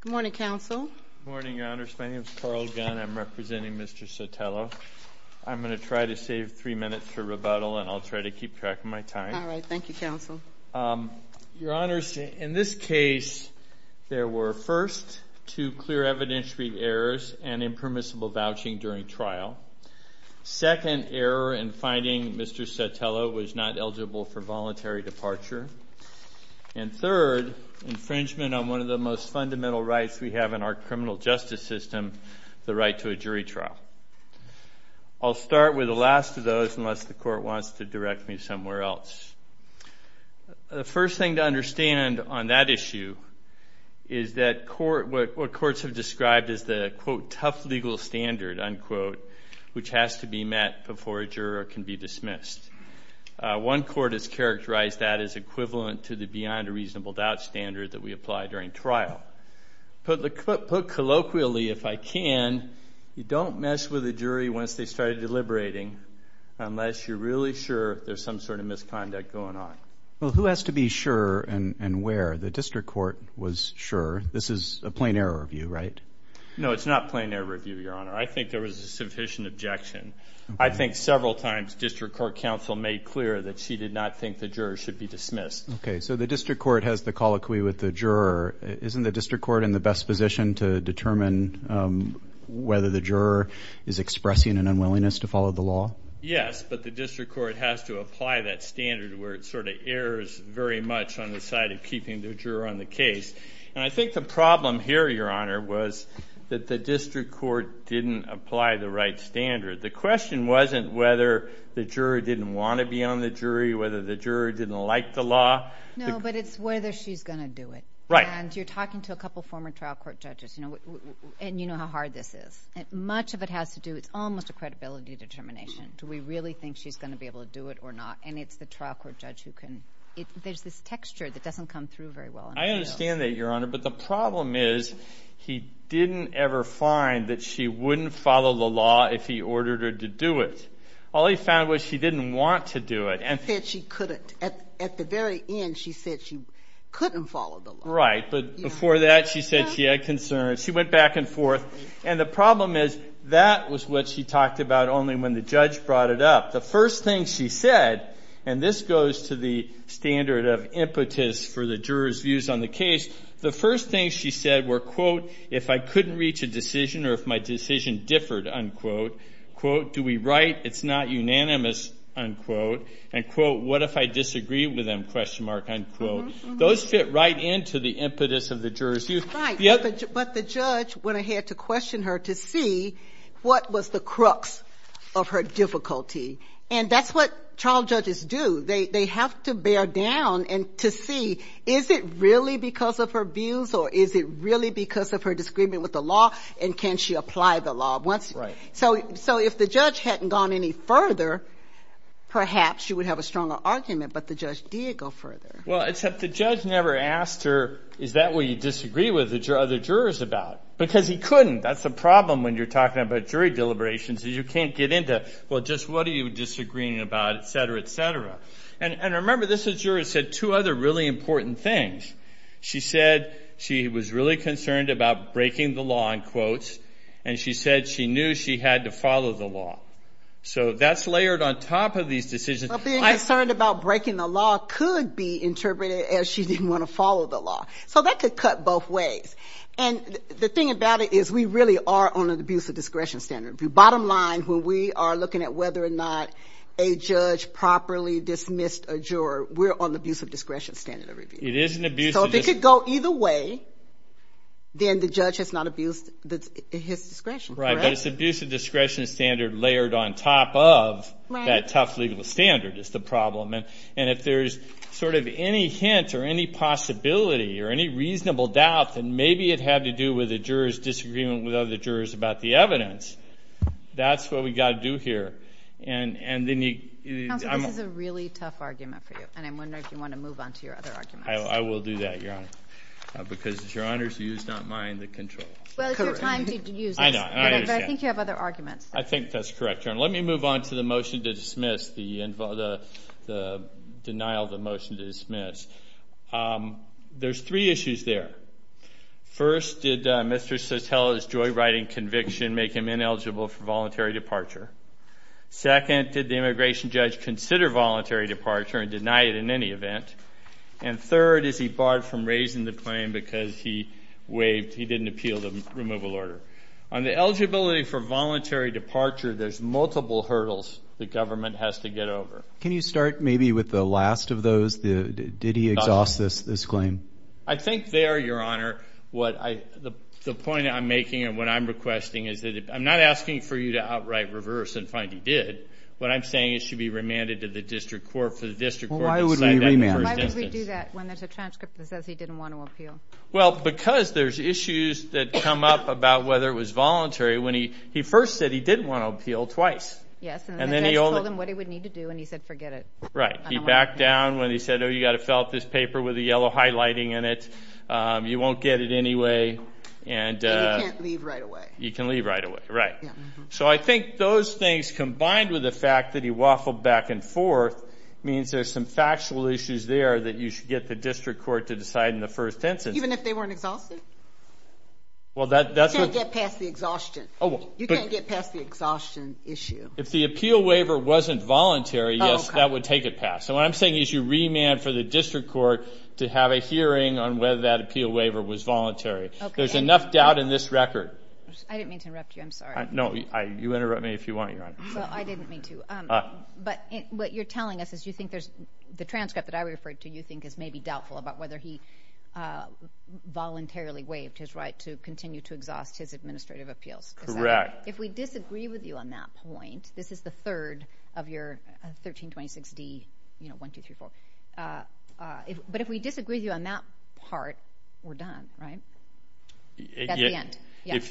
Good morning, Counsel. Good morning, Your Honors. My name is Carl Gunn. I'm representing Mr. Sotelo. I'm going to try to save three minutes for rebuttal, and I'll try to keep track of my time. All right. Thank you, Counsel. Your Honors, in this case, there were, first, two clear evidentiary errors and impermissible vouching during trial. Second error in finding Mr. Sotelo was not eligible for voluntary departure. And third, infringement on one of the most fundamental rights we have in our criminal justice system, the right to a jury trial. I'll start with the last of those unless the Court wants to direct me somewhere else. The first thing to understand on that issue is that what courts have described as the, quote, tough legal standard, unquote, which has to be met before a juror can be dismissed. One court has characterized that as equivalent to the beyond a reasonable doubt standard that we apply during trial. Put colloquially, if I can, you don't mess with a jury once they start deliberating unless you're really sure there's some sort of misconduct going on. Well, who has to be sure and where? The District Court was sure. This is a plain error review, right? No, it's not a plain error review, Your Honor. I think there was a sufficient objection. I think several times District Court counsel made clear that she did not think the juror should be dismissed. Okay, so the District Court has the colloquy with the juror. Isn't the District Court in the best position to determine whether the juror is expressing an unwillingness to follow the law? Yes, but the District Court has to apply that standard where it sort of errs very much on the side of keeping the juror on the case. And I think the problem here, Your Honor, was that the District Court didn't apply the right standard. The question wasn't whether the juror didn't want to be on the jury, whether the juror didn't like the law. No, but it's whether she's going to do it. Right. And you're talking to a couple former trial court judges, and you know how hard this is. Much of it has to do with almost a credibility determination. Do we really think she's going to be able to do it or not? And it's the trial court judge who can. There's this texture that doesn't come through very well. I understand that, Your Honor, but the problem is he didn't ever find that she wouldn't follow the law if he ordered her to do it. All he found was she didn't want to do it. He said she couldn't. At the very end, she said she couldn't follow the law. Right, but before that, she said she had concerns. She went back and forth. And the problem is that was what she talked about only when the judge brought it up. The first thing she said, and this goes to the standard of impetus for the juror's views on the case, the first thing she said were, quote, if I couldn't reach a decision or if my decision differed, unquote. Quote, do we write? It's not unanimous, unquote. And quote, what if I disagree with them, question mark, unquote. Those fit right into the impetus of the juror's view. But the judge went ahead to question her to see what was the crux of her difficulty. And that's what trial judges do. They have to bear down to see is it really because of her views or is it really because of her disagreement with the law and can she apply the law. So if the judge hadn't gone any further, perhaps she would have a stronger argument, but the judge did go further. Well, except the judge never asked her, is that what you disagree with the other jurors about? Because he couldn't. That's the problem when you're talking about jury deliberations is you can't get into, well, just what are you disagreeing about, et cetera, et cetera. And remember, this juror said two other really important things. She said she was really concerned about breaking the law, in quotes, and she said she knew she had to follow the law. So that's layered on top of these decisions. Well, being concerned about breaking the law could be interpreted as she didn't want to follow the law. So that could cut both ways. And the thing about it is we really are on an abuse of discretion standard. Bottom line, when we are looking at whether or not a judge properly dismissed a juror, we're on the abuse of discretion standard of review. It is an abuse of discretion. So if it could go either way, then the judge has not abused his discretion, correct? But it's abuse of discretion standard layered on top of that tough legal standard is the problem. And if there's sort of any hint or any possibility or any reasonable doubt, then maybe it had to do with a juror's disagreement with other jurors about the evidence. That's what we've got to do here. Counsel, this is a really tough argument for you, and I'm wondering if you want to move on to your other arguments. I will do that, Your Honor, because it's Your Honor's use, not mine, to control. Well, it's your time to use this. I know. I understand. But I think you have other arguments. I think that's correct, Your Honor. Let me move on to the motion to dismiss, the denial of the motion to dismiss. There's three issues there. First, did Mr. Sotelo's joyriding conviction make him ineligible for voluntary departure? Second, did the immigration judge consider voluntary departure and deny it in any event? And third, is he barred from raising the claim because he didn't appeal the removal order? On the eligibility for voluntary departure, there's multiple hurdles the government has to get over. Can you start maybe with the last of those? Did he exhaust this claim? I think there, Your Honor, the point I'm making and what I'm requesting is that I'm not asking for you to outright reverse and find he did. What I'm saying is it should be remanded to the district court for the district court to decide that in the first instance. Why would we do that when there's a transcript that says he didn't want to appeal? Well, because there's issues that come up about whether it was voluntary when he first said he didn't want to appeal twice. Yes. And then the judge told him what he would need to do, and he said forget it. Right. He backed down when he said, oh, you've got to fill out this paper with the yellow highlighting in it. You won't get it anyway. And you can't leave right away. You can leave right away. Right. So I think those things combined with the fact that he waffled back and forth means there's some factual issues there that you should get the district court to decide in the first instance. Even if they weren't exhausted? You can't get past the exhaustion issue. If the appeal waiver wasn't voluntary, yes, that would take it past. So what I'm saying is you remand for the district court to have a hearing on whether that appeal waiver was voluntary. There's enough doubt in this record. I didn't mean to interrupt you. I'm sorry. No, you interrupt me if you want, Your Honor. Well, I didn't mean to. But what you're telling us is you think there's the transcript that I referred to you think is maybe doubtful about whether he voluntarily waived his right to continue to exhaust his administrative appeals. Correct. If we disagree with you on that point, this is the third of your 1326D, you know, 1, 2, 3, 4. But if we disagree with you on that part, we're done, right? That's the end.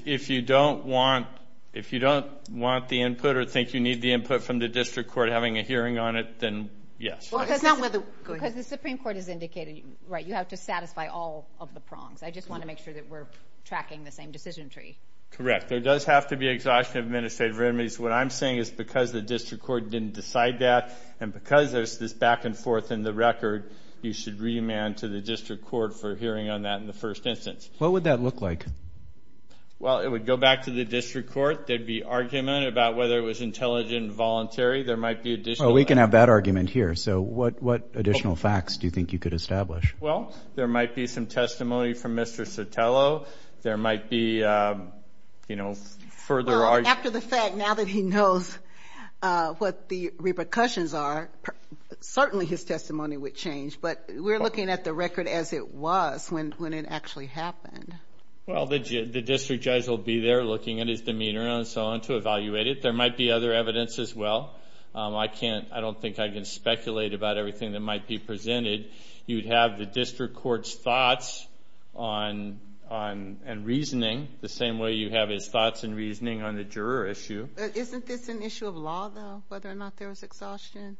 If you don't want the input or think you need the input from the district court having a hearing on it, then yes. Because the Supreme Court has indicated, right, you have to satisfy all of the prongs. I just want to make sure that we're tracking the same decision tree. Correct. There does have to be exhaustion of administrative remedies. What I'm saying is because the district court didn't decide that and because there's this back and forth in the record, you should remand to the district court for hearing on that in the first instance. What would that look like? Well, it would go back to the district court. There'd be argument about whether it was intelligent and voluntary. There might be additional. Well, we can have that argument here. So what additional facts do you think you could establish? Well, there might be some testimony from Mr. Sotelo. There might be, you know, further argument. After the fact, now that he knows what the repercussions are, certainly his testimony would change. But we're looking at the record as it was when it actually happened. Well, the district judge will be there looking at his demeanor and so on to evaluate it. There might be other evidence as well. I don't think I can speculate about everything that might be presented. You'd have the district court's thoughts and reasoning the same way you have his thoughts and reasoning on the juror issue. Isn't this an issue of law, though, whether or not there was exhaustion?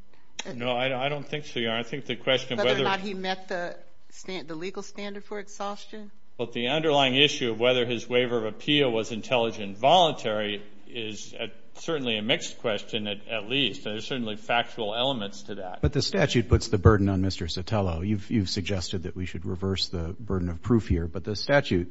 No, I don't think so, Your Honor. I think the question of whether or not he met the legal standard for exhaustion. But the underlying issue of whether his waiver of appeal was intelligent and voluntary is certainly a mixed question at least. There are certainly factual elements to that. But the statute puts the burden on Mr. Sotelo. You've suggested that we should reverse the burden of proof here. But the statute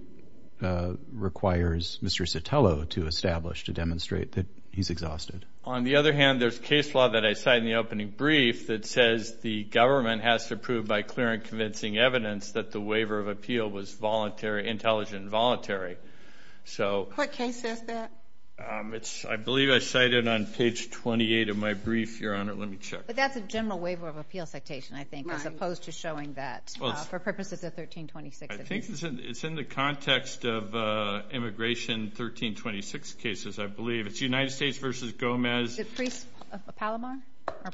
requires Mr. Sotelo to establish to demonstrate that he's exhausted. On the other hand, there's case law that I cited in the opening brief that says the government has to prove by clear and convincing evidence that the waiver of appeal was intelligent and voluntary. What case says that? I believe I cited it on page 28 of my brief, Your Honor. Let me check. But that's a general waiver of appeal citation, I think, as opposed to showing that for purposes of 1326. I think it's in the context of immigration 1326 cases, I believe. It's United States v. Gomez. Is it pre-Palomar?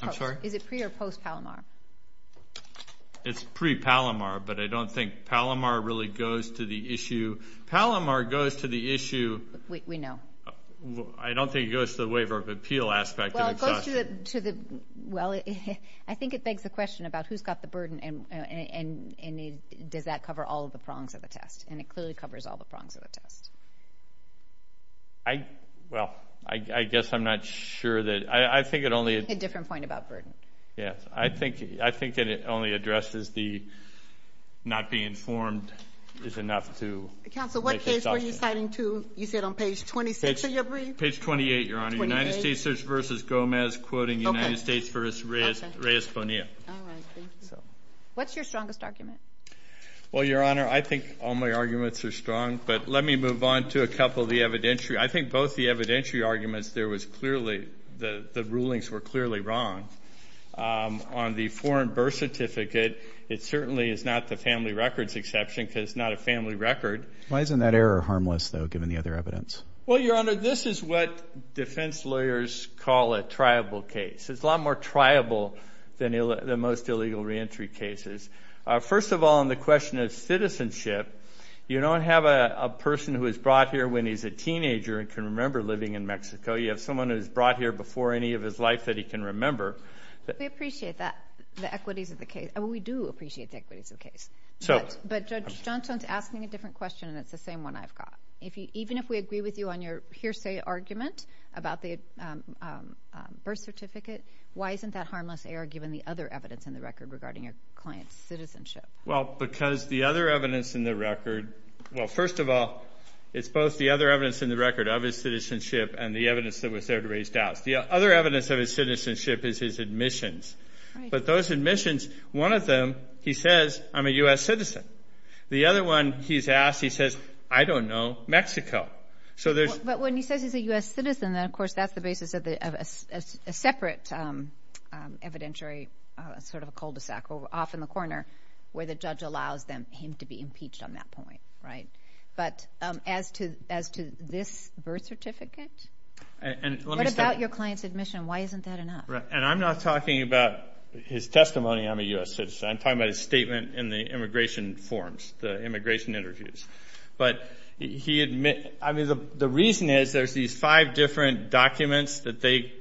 I'm sorry? Is it pre- or post-Palomar? It's pre-Palomar, but I don't think Palomar really goes to the issue. Palomar goes to the issue. We know. I don't think it goes to the waiver of appeal aspect of exhaustion. Well, it goes to the – well, I think it begs the question about who's got the burden and does that cover all of the prongs of the test, and it clearly covers all the prongs of the test. I – well, I guess I'm not sure that – I think it only – A different point about burden. Yes. I think that it only addresses the not being informed is enough to make exhaustion. Counsel, what case were you citing to? You said on page 26 of your brief? Page 28, Your Honor. Page 28? United States v. Gomez, quoting United States v. Reyes-Bonilla. All right. Thank you. What's your strongest argument? Well, Your Honor, I think all my arguments are strong, but let me move on to a couple of the evidentiary. I think both the evidentiary arguments there was clearly – the rulings were clearly wrong. On the foreign birth certificate, it certainly is not the family records exception because it's not a family record. Why isn't that error harmless, though, given the other evidence? Well, Your Honor, this is what defense lawyers call a triable case. It's a lot more triable than most illegal reentry cases. First of all, on the question of citizenship, you don't have a person who is brought here when he's a teenager and can remember living in Mexico. You have someone who is brought here before any of his life that he can remember. We appreciate that, the equities of the case. We do appreciate the equities of the case. But Judge Johnstone is asking a different question, and it's the same one I've got. Even if we agree with you on your hearsay argument about the birth certificate, why isn't that harmless error given the other evidence in the record regarding your client's citizenship? Well, because the other evidence in the record – well, first of all, it's both the other evidence in the record of his citizenship and the evidence that was there to raise doubts. The other evidence of his citizenship is his admissions. But those admissions, one of them he says, I'm a U.S. citizen. The other one he's asked, he says, I don't know, Mexico. But when he says he's a U.S. citizen, then, of course, that's the basis of a separate evidentiary, sort of a cul-de-sac off in the corner where the judge allows him to be impeached on that point. But as to this birth certificate, what about your client's admission? Why isn't that enough? And I'm not talking about his testimony, I'm a U.S. citizen. I'm talking about his statement in the immigration forms, the immigration interviews. But he – I mean, the reason is there's these five different documents that they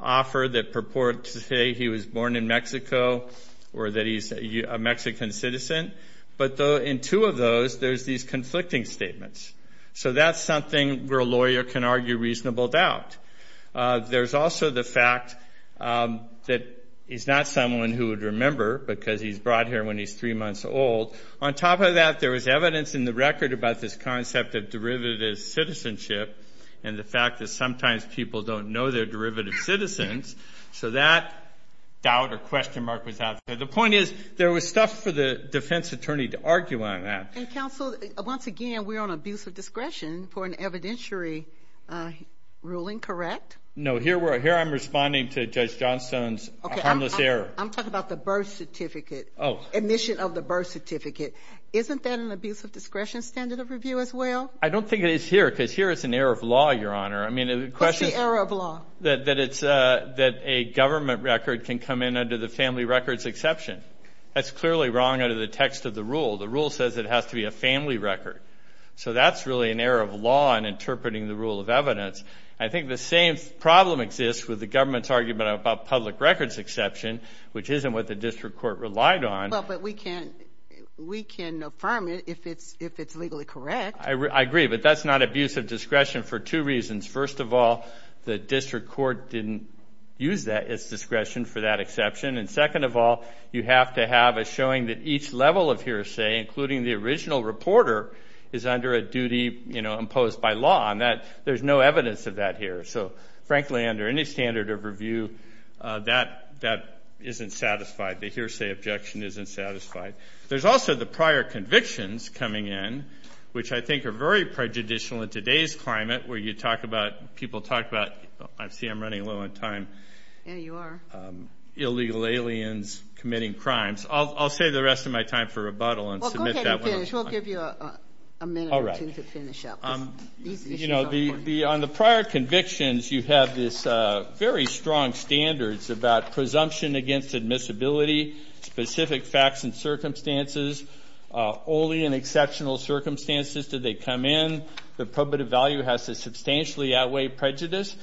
offer that purport to say he was born in Mexico or that he's a Mexican citizen. But in two of those, there's these conflicting statements. So that's something where a lawyer can argue reasonable doubt. There's also the fact that he's not someone who would remember because he's brought here when he's three months old. On top of that, there was evidence in the record about this concept of derivative citizenship and the fact that sometimes people don't know they're derivative citizens. So that doubt or question mark was out there. The point is there was stuff for the defense attorney to argue on that. And, counsel, once again, we're on abuse of discretion for an evidentiary ruling, correct? No, here I'm responding to Judge Johnstone's harmless error. I'm talking about the birth certificate, admission of the birth certificate. Isn't that an abuse of discretion standard of review as well? I don't think it is here because here it's an error of law, Your Honor. What's the error of law? That a government record can come in under the family records exception. That's clearly wrong under the text of the rule. The rule says it has to be a family record. So that's really an error of law in interpreting the rule of evidence. I think the same problem exists with the government's argument about public records exception, which isn't what the district court relied on. But we can affirm it if it's legally correct. I agree, but that's not abuse of discretion for two reasons. First of all, the district court didn't use that as discretion for that exception. And second of all, you have to have a showing that each level of hearsay, including the original reporter, is under a duty imposed by law. There's no evidence of that here. So, frankly, under any standard of review, that isn't satisfied. The hearsay objection isn't satisfied. There's also the prior convictions coming in, which I think are very prejudicial in today's climate, where you talk about, people talk about, I see I'm running low on time. Yeah, you are. Illegal aliens committing crimes. I'll save the rest of my time for rebuttal and submit that when I'm done. Well, go ahead and finish. Mitch, we'll give you a minute or two to finish up. You know, on the prior convictions, you have these very strong standards about presumption against admissibility, specific facts and circumstances, only in exceptional circumstances do they come in. The probative value has to substantially outweigh prejudice.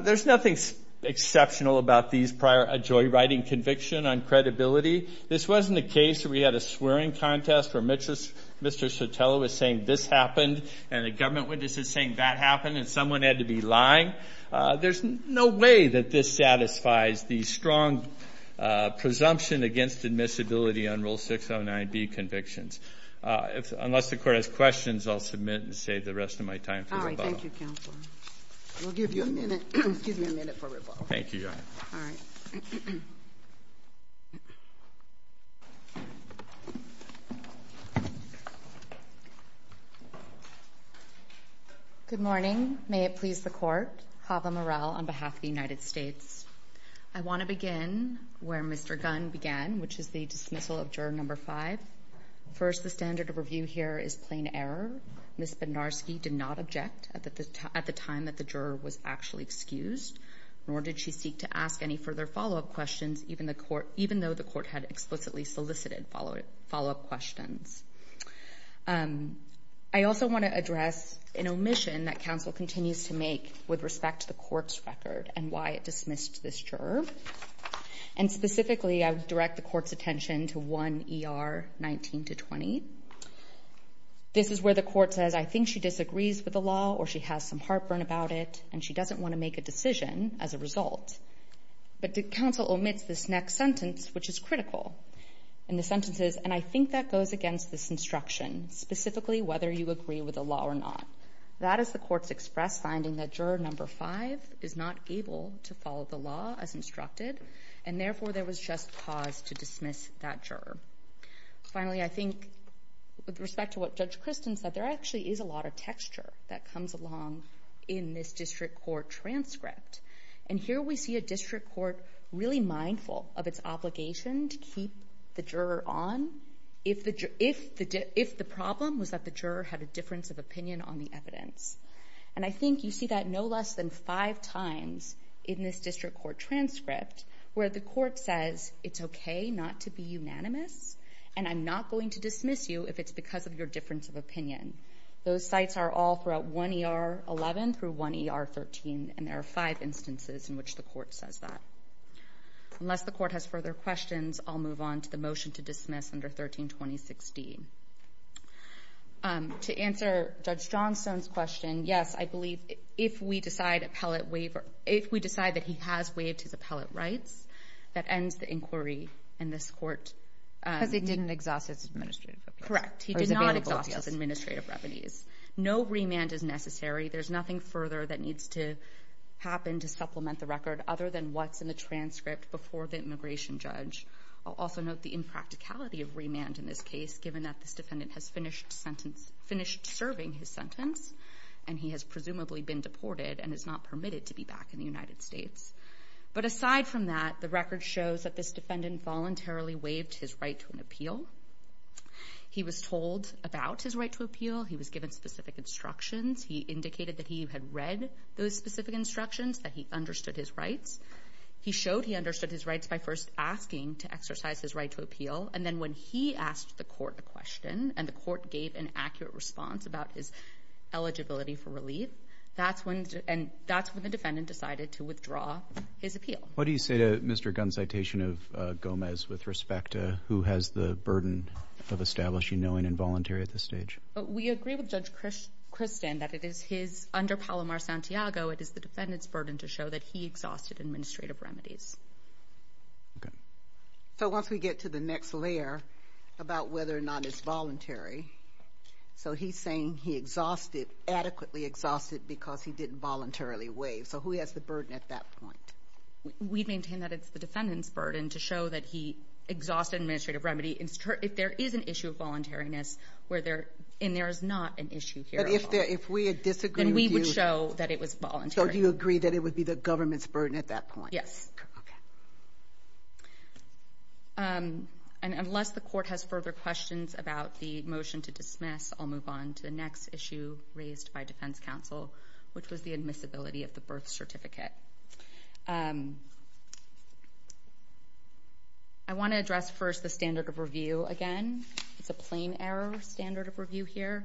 There's nothing exceptional about these prior joyriding convictions on credibility. This wasn't the case where we had a swearing contest where Mr. Sotelo was saying this happened and a government witness is saying that happened and someone had to be lying. There's no way that this satisfies the strong presumption against admissibility on Rule 609B convictions. Unless the Court has questions, I'll submit and save the rest of my time for rebuttal. All right, thank you, Counselor. We'll give you a minute for rebuttal. Thank you, Your Honor. All right. Good morning. May it please the Court. Hava morale on behalf of the United States. I want to begin where Mr. Gunn began, which is the dismissal of Juror No. 5. First, the standard of review here is plain error. Ms. Bednarski did not object at the time that the juror was actually excused, nor did she seek to ask any further follow-up questions, even though the Court had explicitly solicited follow-up questions. I also want to address an omission that Counsel continues to make with respect to the Court's record and why it dismissed this juror. And specifically, I would direct the Court's attention to 1 ER 19-20. This is where the Court says, I think she disagrees with the law or she has some heartburn about it and she doesn't want to make a decision as a result. But Counsel omits this next sentence, which is critical. And the sentence is, and I think that goes against this instruction, specifically whether you agree with the law or not. That is the Court's express finding that Juror No. 5 is not able to follow the law as instructed, and therefore there was just pause to dismiss that juror. Finally, I think with respect to what Judge Christin said, there actually is a lot of texture that comes along in this district court transcript. And here we see a district court really mindful of its obligation to keep the juror on if the problem was that the juror had a difference of opinion on the evidence. And I think you see that no less than five times in this district court transcript, where the Court says, it's okay not to be unanimous, and I'm not going to dismiss you if it's because of your difference of opinion. Those sites are all throughout 1ER11 through 1ER13, and there are five instances in which the Court says that. Unless the Court has further questions, I'll move on to the motion to dismiss under 13-2016. To answer Judge Johnstone's question, yes, I believe if we decide that he has waived his appellate rights, that ends the inquiry in this court. Because he didn't exhaust his administrative revenues. Correct. He did not exhaust his administrative revenues. No remand is necessary. There's nothing further that needs to happen to supplement the record other than what's in the transcript before the immigration judge. I'll also note the impracticality of remand in this case, given that this defendant has finished serving his sentence, and he has presumably been deported and is not permitted to be back in the United States. But aside from that, the record shows that this defendant voluntarily waived his right to an appeal. He was told about his right to appeal. He was given specific instructions. He indicated that he had read those specific instructions, that he understood his rights. He showed he understood his rights by first asking to exercise his right to appeal, and then when he asked the Court a question, and the Court gave an accurate response about his eligibility for relief, that's when the defendant decided to withdraw his appeal. What do you say to Mr. Gunn's citation of Gomez with respect to who has the burden of establishing knowing and voluntary at this stage? We agree with Judge Christin that it is his, under Palomar-Santiago, it is the defendant's burden to show that he exhausted administrative remedies. Okay. So once we get to the next layer about whether or not it's voluntary, so he's saying he adequately exhausted because he didn't voluntarily waive. So who has the burden at that point? We maintain that it's the defendant's burden to show that he exhausted administrative remedy. If there is an issue of voluntariness, and there is not an issue here at all, then we would show that it was voluntary. So do you agree that it would be the government's burden at that point? Yes. Okay. Okay. Unless the court has further questions about the motion to dismiss, I'll move on to the next issue raised by defense counsel, which was the admissibility of the birth certificate. I want to address first the standard of review again. It's a plain error standard of review here.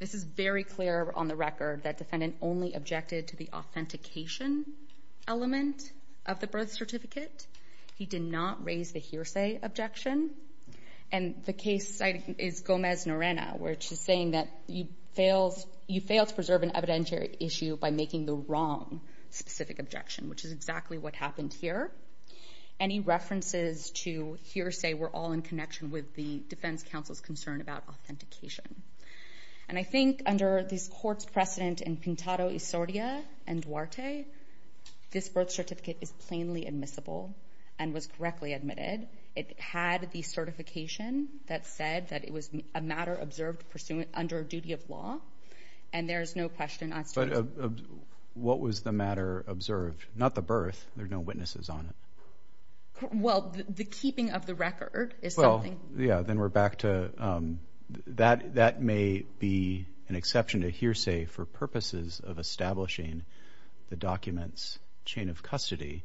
This is very clear on the record that defendant only objected to the authentication element of the birth certificate. He did not raise the hearsay objection. And the case cited is Gomez-Norena, which is saying that you failed to preserve an evidentiary issue by making the wrong specific objection, which is exactly what happened here. Any references to hearsay were all in connection with the defense counsel's concern about authentication. And I think under this court's precedent in Pintado y Soria and Duarte, this birth certificate is plainly admissible and was correctly admitted. It had the certification that said that it was a matter observed under a duty of law, and there is no question. But what was the matter observed? Not the birth. There are no witnesses on it. Well, the keeping of the record is something. Yeah, then we're back to that may be an exception to hearsay for purposes of establishing the document's chain of custody,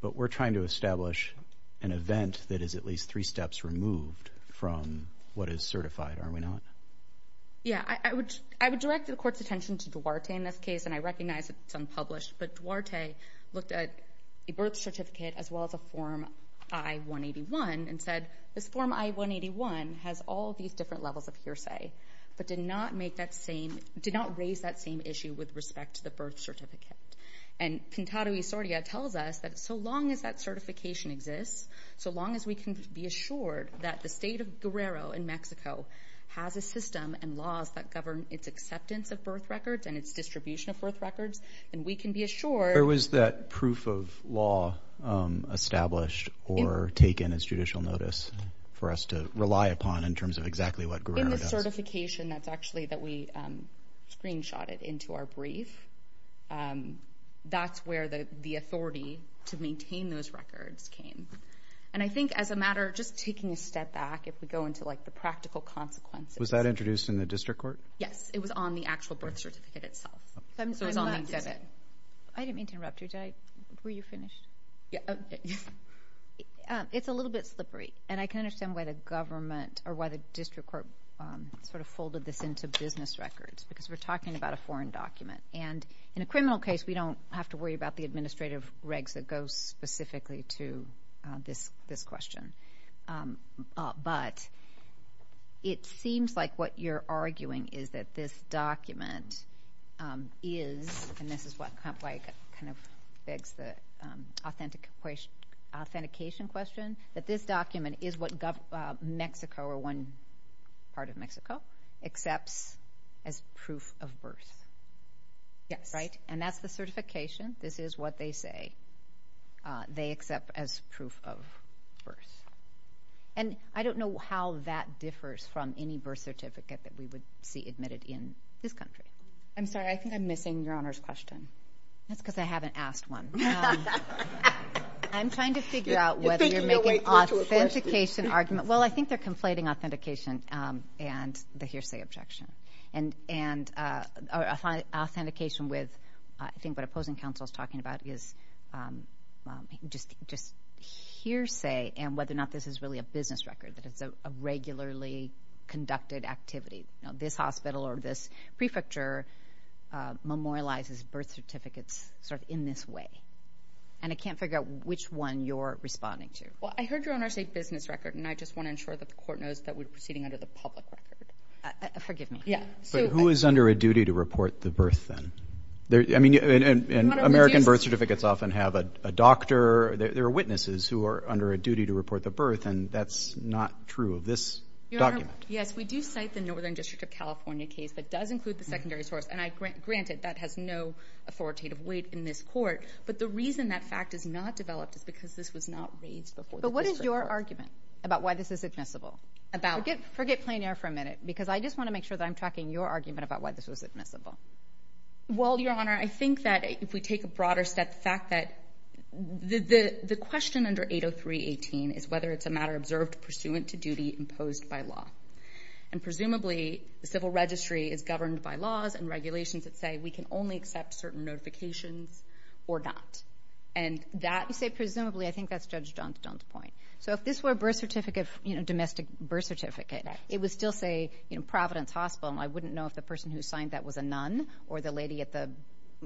but we're trying to establish an event that is at least three steps removed from what is certified, are we not? Yeah, I would direct the court's attention to Duarte in this case, and I recognize it's unpublished, but Duarte looked at the birth certificate as well as a Form I-181 and said, this Form I-181 has all these different levels of hearsay, but did not raise that same issue with respect to the birth certificate. And Pintado y Soria tells us that so long as that certification exists, so long as we can be assured that the state of Guerrero in Mexico has a system and laws that govern its acceptance of birth records and its distribution of birth records, then we can be assured. There was that proof of law established or taken as judicial notice for us to rely upon in terms of exactly what Guerrero does. That certification, that's actually that we screenshotted into our brief. That's where the authority to maintain those records came. And I think as a matter of just taking a step back, if we go into the practical consequences. Was that introduced in the district court? Yes, it was on the actual birth certificate itself. So it was on the exhibit. I didn't mean to interrupt you. Were you finished? It's a little bit slippery, and I can understand why the government or why the district court sort of folded this into business records because we're talking about a foreign document. And in a criminal case, we don't have to worry about the administrative regs that go specifically to this question. But it seems like what you're arguing is that this document is, and this is why it kind of begs the authentication question, that this document is what Mexico, or one part of Mexico, accepts as proof of birth. Yes. Right? And that's the certification. This is what they say they accept as proof of birth. And I don't know how that differs from any birth certificate that we would see admitted in this country. I'm sorry, I think I'm missing Your Honor's question. That's because I haven't asked one. I'm trying to figure out whether you're making authentication argument. Well, I think they're conflating authentication and the hearsay objection. And authentication with I think what opposing counsel is talking about is just hearsay and whether or not this is really a business record, that it's a regularly conducted activity. This hospital or this prefecture memorializes birth certificates sort of in this way. And I can't figure out which one you're responding to. Well, I heard Your Honor say business record, and I just want to ensure that the court knows that we're proceeding under the public record. Forgive me. But who is under a duty to report the birth then? I mean, American birth certificates often have a doctor. There are witnesses who are under a duty to report the birth, and that's not true of this document. Your Honor, yes, we do cite the Northern District of California case that does include the secondary source. And granted, that has no authoritative weight in this court. But the reason that fact is not developed is because this was not raised before. But what is your argument about why this is admissible? Forget plein air for a minute, because I just want to make sure that I'm tracking your argument about why this was admissible. Well, Your Honor, I think that if we take a broader step, the fact that the question under 803.18 is whether it's a matter observed pursuant to duty imposed by law. And presumably, the civil registry is governed by laws and regulations that say we can only accept certain notifications or not. And that, you say presumably, I think that's Judge Johnstone's point. So if this were a birth certificate, you know, a domestic birth certificate, it would still say Providence Hospital, and I wouldn't know if the person who signed that was a nun or the lady at the,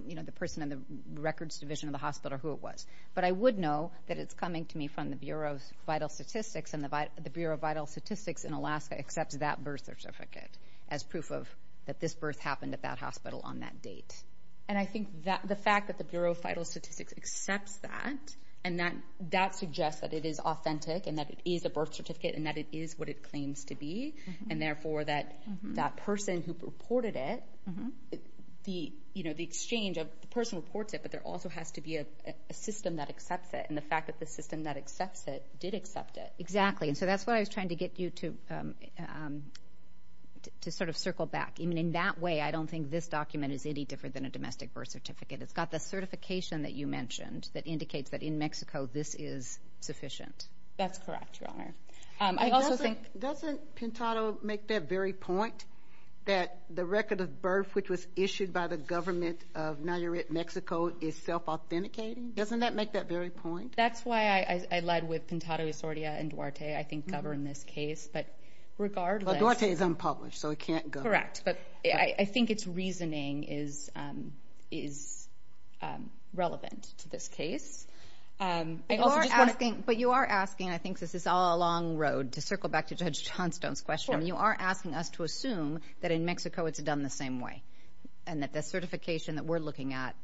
you know, the person in the records division of the hospital or who it was. But I would know that it's coming to me from the Bureau of Vital Statistics and the Bureau of Vital Statistics in Alaska accepts that birth certificate as proof that this birth happened at that hospital on that date. And I think the fact that the Bureau of Vital Statistics accepts that and that suggests that it is authentic and that it is a birth certificate and that it is what it claims to be, and therefore that that person who reported it, the exchange of the person reports it, but there also has to be a system that accepts it. And the fact that the system that accepts it did accept it. Exactly, and so that's what I was trying to get you to sort of circle back. I mean, in that way, I don't think this document is any different than a domestic birth certificate. It's got the certification that you mentioned that indicates that in Mexico this is sufficient. That's correct, Your Honor. Doesn't Pintado make that very point that the record of birth which was issued by the government of Nayarit, Mexico, is self-authenticating? Doesn't that make that very point? That's why I lied with Pintado, Sordia, and Duarte, I think, govern this case, but regardless... But Duarte is unpublished, so it can't govern. Correct, but I think its reasoning is relevant to this case. But you are asking, and I think this is all along the road, to circle back to Judge Johnstone's question. You are asking us to assume that in Mexico it's done the same way and that the certification that we're looking at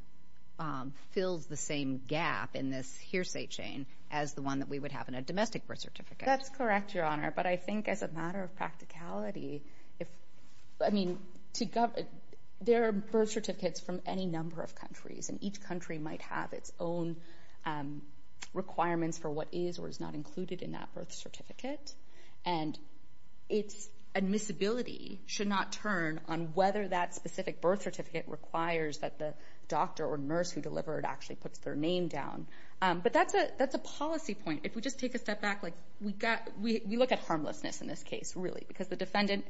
fills the same gap in this hearsay chain as the one that we would have in a domestic birth certificate. That's correct, Your Honor, but I think as a matter of practicality, I mean, there are birth certificates from any number of countries, and each country might have its own requirements for what is or is not included in that birth certificate, and its admissibility should not turn on whether that specific birth certificate requires that the doctor or nurse who delivered it actually puts their name down. But that's a policy point. If we just take a step back, we look at harmlessness in this case, really, because the defendant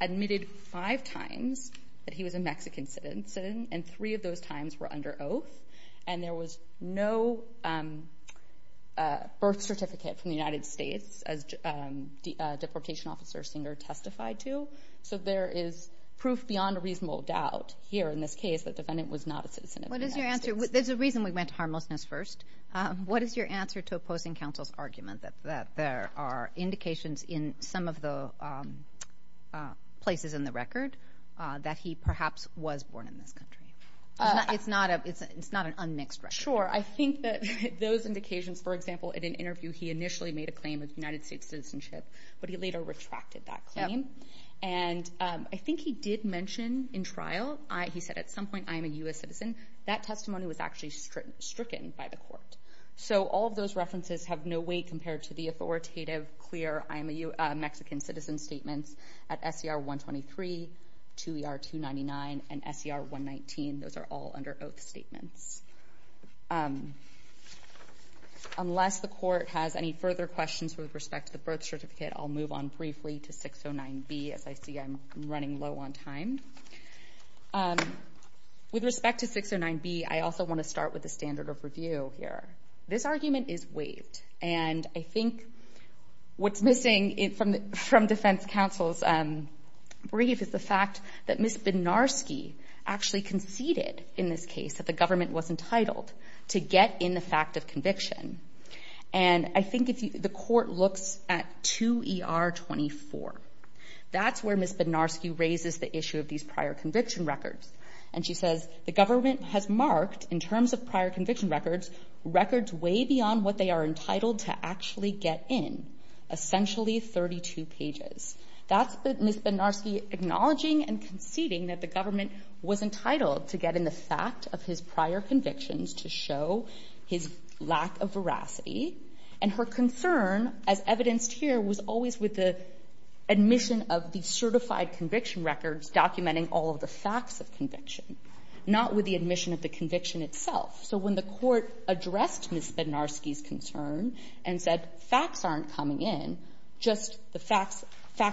admitted five times that he was a Mexican citizen, and three of those times were under oath, and there was no birth certificate from the United States as Deportation Officer Singer testified to. So there is proof beyond a reasonable doubt here in this case that the defendant was not a citizen of the United States. What is your answer? There's a reason we went to harmlessness first. What is your answer to opposing counsel's argument that there are indications in some of the places in the record that he perhaps was born in this country? It's not an unmixed record. Sure, I think that those indications, for example, in an interview he initially made a claim of United States citizenship, but he later retracted that claim. And I think he did mention in trial, he said, at some point, I am a U.S. citizen. That testimony was actually stricken by the court. So all of those references have no weight compared to the authoritative, clear I am a Mexican citizen statements at SER 123, 2ER 299, and SER 119. Those are all under oath statements. Unless the court has any further questions with respect to the birth certificate, I'll move on briefly to 609B, as I see I'm running low on time. With respect to 609B, I also want to start with the standard of review here. This argument is waived, and I think what's missing from defense counsel's brief is the fact that Ms. Bednarski actually conceded in this case that the government was entitled to get in the fact of conviction. And I think the court looks at 2ER 24. That's where Ms. Bednarski raises the issue of these prior conviction records. And she says, the government has marked, in terms of prior conviction records, records way beyond what they are entitled to actually get in, essentially 32 pages. That's Ms. Bednarski acknowledging and conceding that the government was entitled to get in the fact of his prior convictions to show his lack of veracity. And her concern, as evidenced here, was always with the admission of the certified conviction records documenting all of the facts of conviction, not with the admission of the conviction itself. So when the court addressed Ms. Bednarski's concern and said facts aren't coming in, just the facts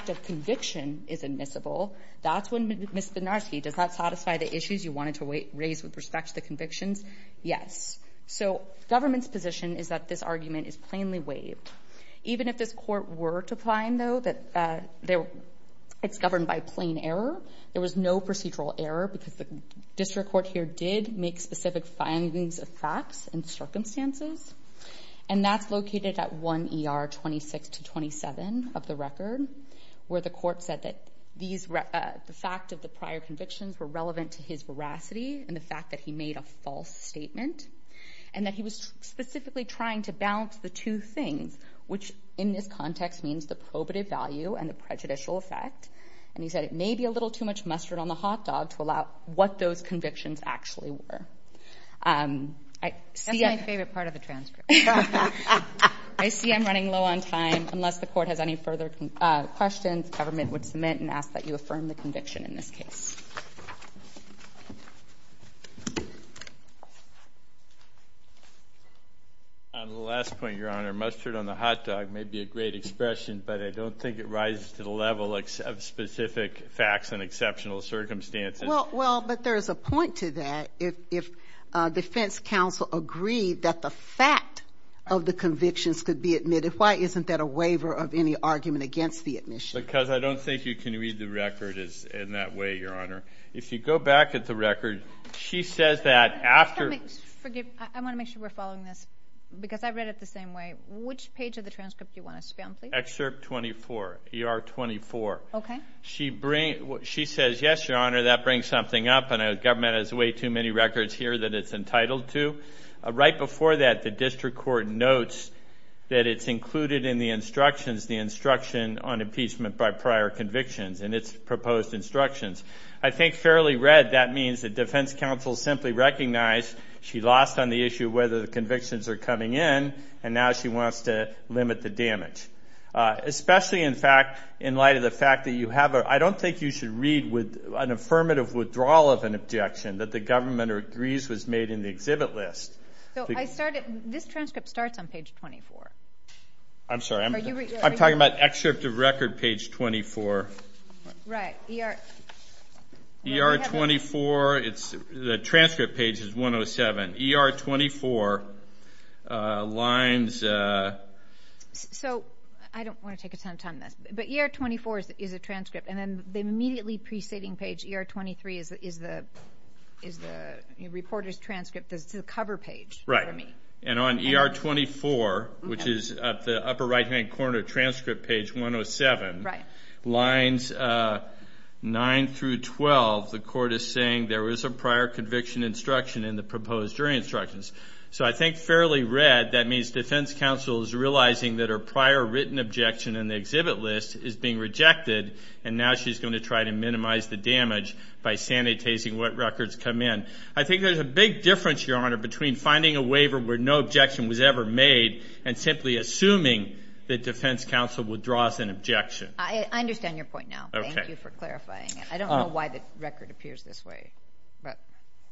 of conviction is admissible, that's when Ms. Bednarski, does that satisfy the issues you wanted to raise with respect to the convictions? Yes. So government's position is that this argument is plainly waived. Even if this court were to find, though, that it's governed by plain error, there was no procedural error because the district court here did make specific findings of facts and circumstances. And that's located at 1ER 26 to 27 of the record, where the court said that the fact of the prior convictions were relevant to his veracity and the fact that he made a false statement. And that he was specifically trying to balance the two things, which in this context means the probative value and the prejudicial effect. And he said it may be a little too much mustard on the hot dog to allow what those convictions actually were. That's my favorite part of the transcript. I see I'm running low on time. Unless the court has any further questions, government would submit and ask that you affirm the conviction in this case. On the last point, Your Honor, mustard on the hot dog may be a great expression, but I don't think it rises to the level of specific facts and exceptional circumstances. Well, but there's a point to that. If defense counsel agreed that the fact of the convictions could be admitted, why isn't that a waiver of any argument against the admission? Because I don't think you can read the record in that way, Your Honor. If you go back at the record, she says that after – Forgive me. I want to make sure we're following this because I read it the same way. Which page of the transcript do you want us to be on, please? Excerpt 24, ER 24. Okay. She says, yes, Your Honor, that brings something up, and government has way too many records here that it's entitled to. Right before that, the district court notes that it's included in the instruction on impeachment by prior convictions in its proposed instructions. I think fairly read, that means that defense counsel simply recognized she lost on the issue of whether the convictions are coming in, and now she wants to limit the damage. Especially, in fact, in light of the fact that you have a – I don't think you should read with an affirmative withdrawal of an objection that the government agrees was made in the exhibit list. So I started – this transcript starts on page 24. I'm sorry. I'm talking about excerpt of record, page 24. Right. ER 24, the transcript page is 107. ER 24 lines – So I don't want to take a ton of time on this, but ER 24 is a transcript, and then the immediately preceding page, ER 23, is the reporter's transcript. It's the cover page. Right. And on ER 24, which is at the upper right-hand corner transcript page 107, lines 9 through 12, the court is saying there is a prior conviction instruction in the proposed jury instructions. So I think fairly read, that means defense counsel is realizing that her prior written objection in the exhibit list is being rejected, and now she's going to try to minimize the damage by sanitizing what records come in. I think there's a big difference, Your Honor, between finding a waiver where no objection was ever made and simply assuming that defense counsel would draw us an objection. I understand your point now. Okay. Thank you for clarifying it. I don't know why the record appears this way.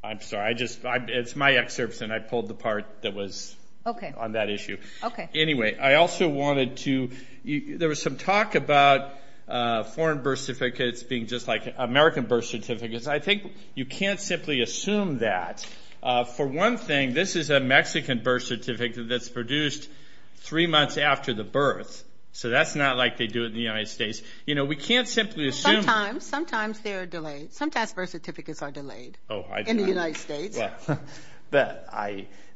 I'm sorry. It's my excerpts, and I pulled the part that was on that issue. Okay. Anyway, I also wanted to – there was some talk about foreign birth certificates being just like American birth certificates. I think you can't simply assume that. For one thing, this is a Mexican birth certificate that's produced three months after the birth. So that's not like they do it in the United States. You know, we can't simply assume. Sometimes. Sometimes they are delayed. Sometimes birth certificates are delayed in the United States.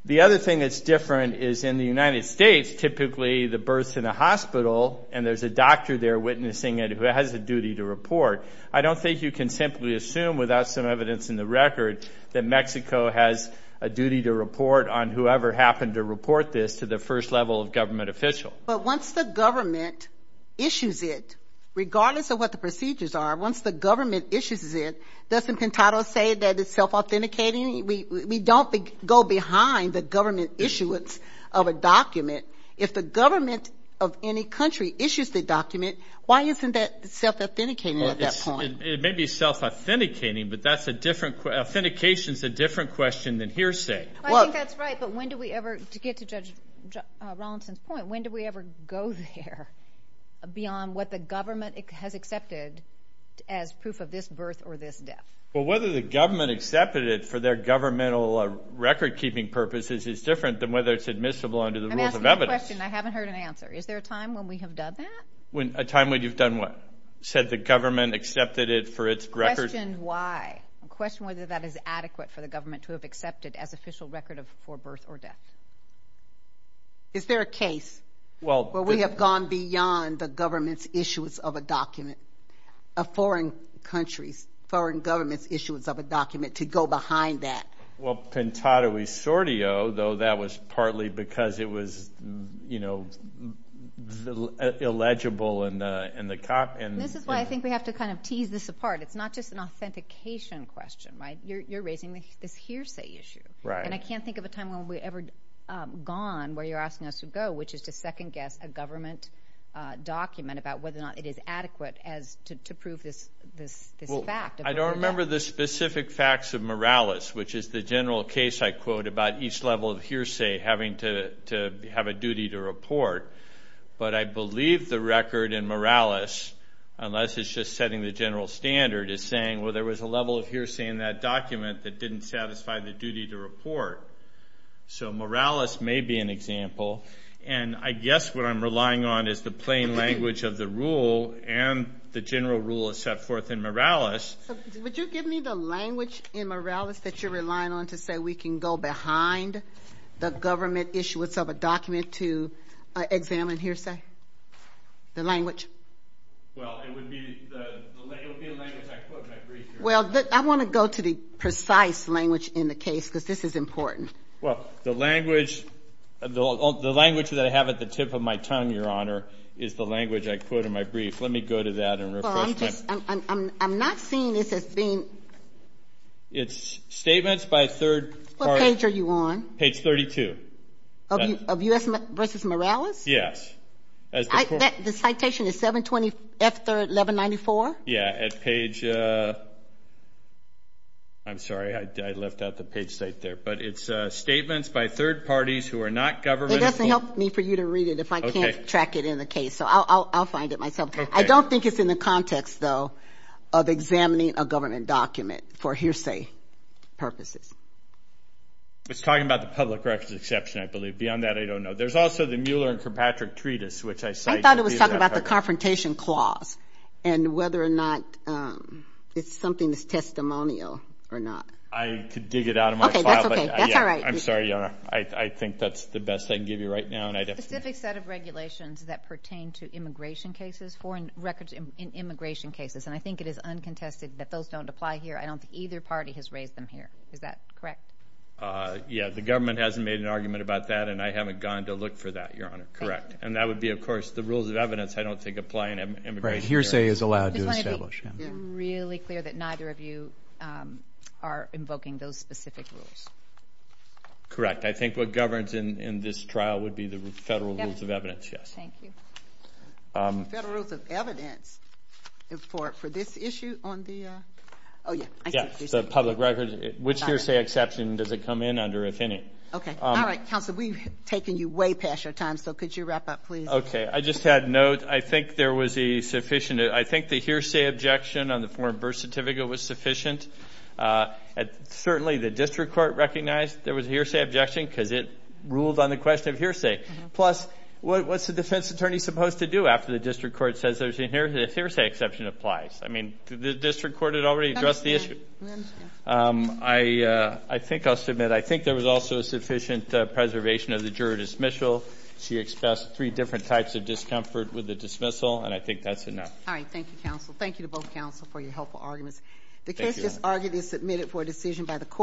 The other thing that's different is in the United States, typically the birth's in a hospital and there's a doctor there witnessing it who has a duty to report. I don't think you can simply assume without some evidence in the record that Mexico has a duty to report on whoever happened to report this to the first level of government official. But once the government issues it, regardless of what the procedures are, once the government issues it, doesn't Pentado say that it's self-authenticating? We don't go behind the government issuance of a document. If the government of any country issues the document, why isn't that self-authenticating at that point? It may be self-authenticating, but authentication is a different question than hearsay. I think that's right. But when do we ever, to get to Judge Rollinson's point, when do we ever go there beyond what the government has accepted as proof of this birth or this death? Well, whether the government accepted it for their governmental record-keeping purposes is different than whether it's admissible under the rules of evidence. I'm asking a question and I haven't heard an answer. Is there a time when we have done that? A time when you've done what? Said the government accepted it for its record? Question why. I'm questioning whether that is adequate for the government to have accepted as official record for birth or death. Is there a case where we have gone beyond the government's issues of a document, of foreign countries, foreign governments' issues of a document to go behind that? Well, Pintado e Sordio, though that was partly because it was, you know, illegible in the copy. This is why I think we have to kind of tease this apart. It's not just an authentication question, right? You're raising this hearsay issue. And I can't think of a time when we've ever gone where you're asking us to go, which is to second-guess a government document about whether or not it is adequate to prove this fact. I don't remember the specific facts of Morales, which is the general case I quote about each level of hearsay having to have a duty to report. But I believe the record in Morales, unless it's just setting the general standard, is saying, well, there was a level of hearsay in that document that didn't satisfy the duty to report. So Morales may be an example. And I guess what I'm relying on is the plain language of the rule and the general rule set forth in Morales. So would you give me the language in Morales that you're relying on to say we can go behind the government issuance of a document to examine hearsay? The language? Well, it would be the language I quote in my brief. Well, I want to go to the precise language in the case because this is important. Well, the language that I have at the tip of my tongue, Your Honor, is the language I quote in my brief. Let me go to that in real quick. I'm not seeing this as being. It's statements by third parties. What page are you on? Page 32. Of U.S. v. Morales? Yes. The citation is 720F1194? Yeah, at page. I'm sorry, I left out the page state there. But it's statements by third parties who are not governmental. It doesn't help me for you to read it if I can't track it in the case, so I'll find it myself. I don't think it's in the context, though, of examining a government document for hearsay purposes. It's talking about the public records exception, I believe. Beyond that, I don't know. There's also the Mueller and Kirkpatrick Treatise, which I cite. I thought it was talking about the confrontation clause and whether or not it's something that's testimonial or not. I could dig it out of my file. Okay, that's okay. That's all right. I'm sorry, Your Honor. I think that's the best I can give you right now. It's a specific set of regulations that pertain to immigration cases, foreign records in immigration cases, and I think it is uncontested that those don't apply here. I don't think either party has raised them here. Is that correct? Yeah, the government hasn't made an argument about that, and I haven't gone to look for that, Your Honor. Correct. And that would be, of course, the rules of evidence I don't think apply in immigration. Right, hearsay is allowed to establish. It's really clear that neither of you are invoking those specific rules. Correct. I think what governs in this trial would be the federal rules of evidence. Thank you. Federal rules of evidence for this issue on the public records, which hearsay exception does it come in under, if any? Okay. All right, counsel, we've taken you way past your time, so could you wrap up, please? Okay. I just had a note. I think there was a sufficient – I think the hearsay objection on the foreign birth certificate was sufficient. Certainly, the district court recognized there was a hearsay objection because it ruled on the question of hearsay. Plus, what's the defense attorney supposed to do after the district court says there's a hearsay exception applies? I mean, the district court had already addressed the issue. We understand. I think I'll submit I think there was also sufficient preservation of the juror dismissal. She expressed three different types of discomfort with the dismissal, and I think that's enough. All right. Thank you, counsel. Thank you to both counsel for your helpful arguments. The case just argued is submitted for a decision by the court.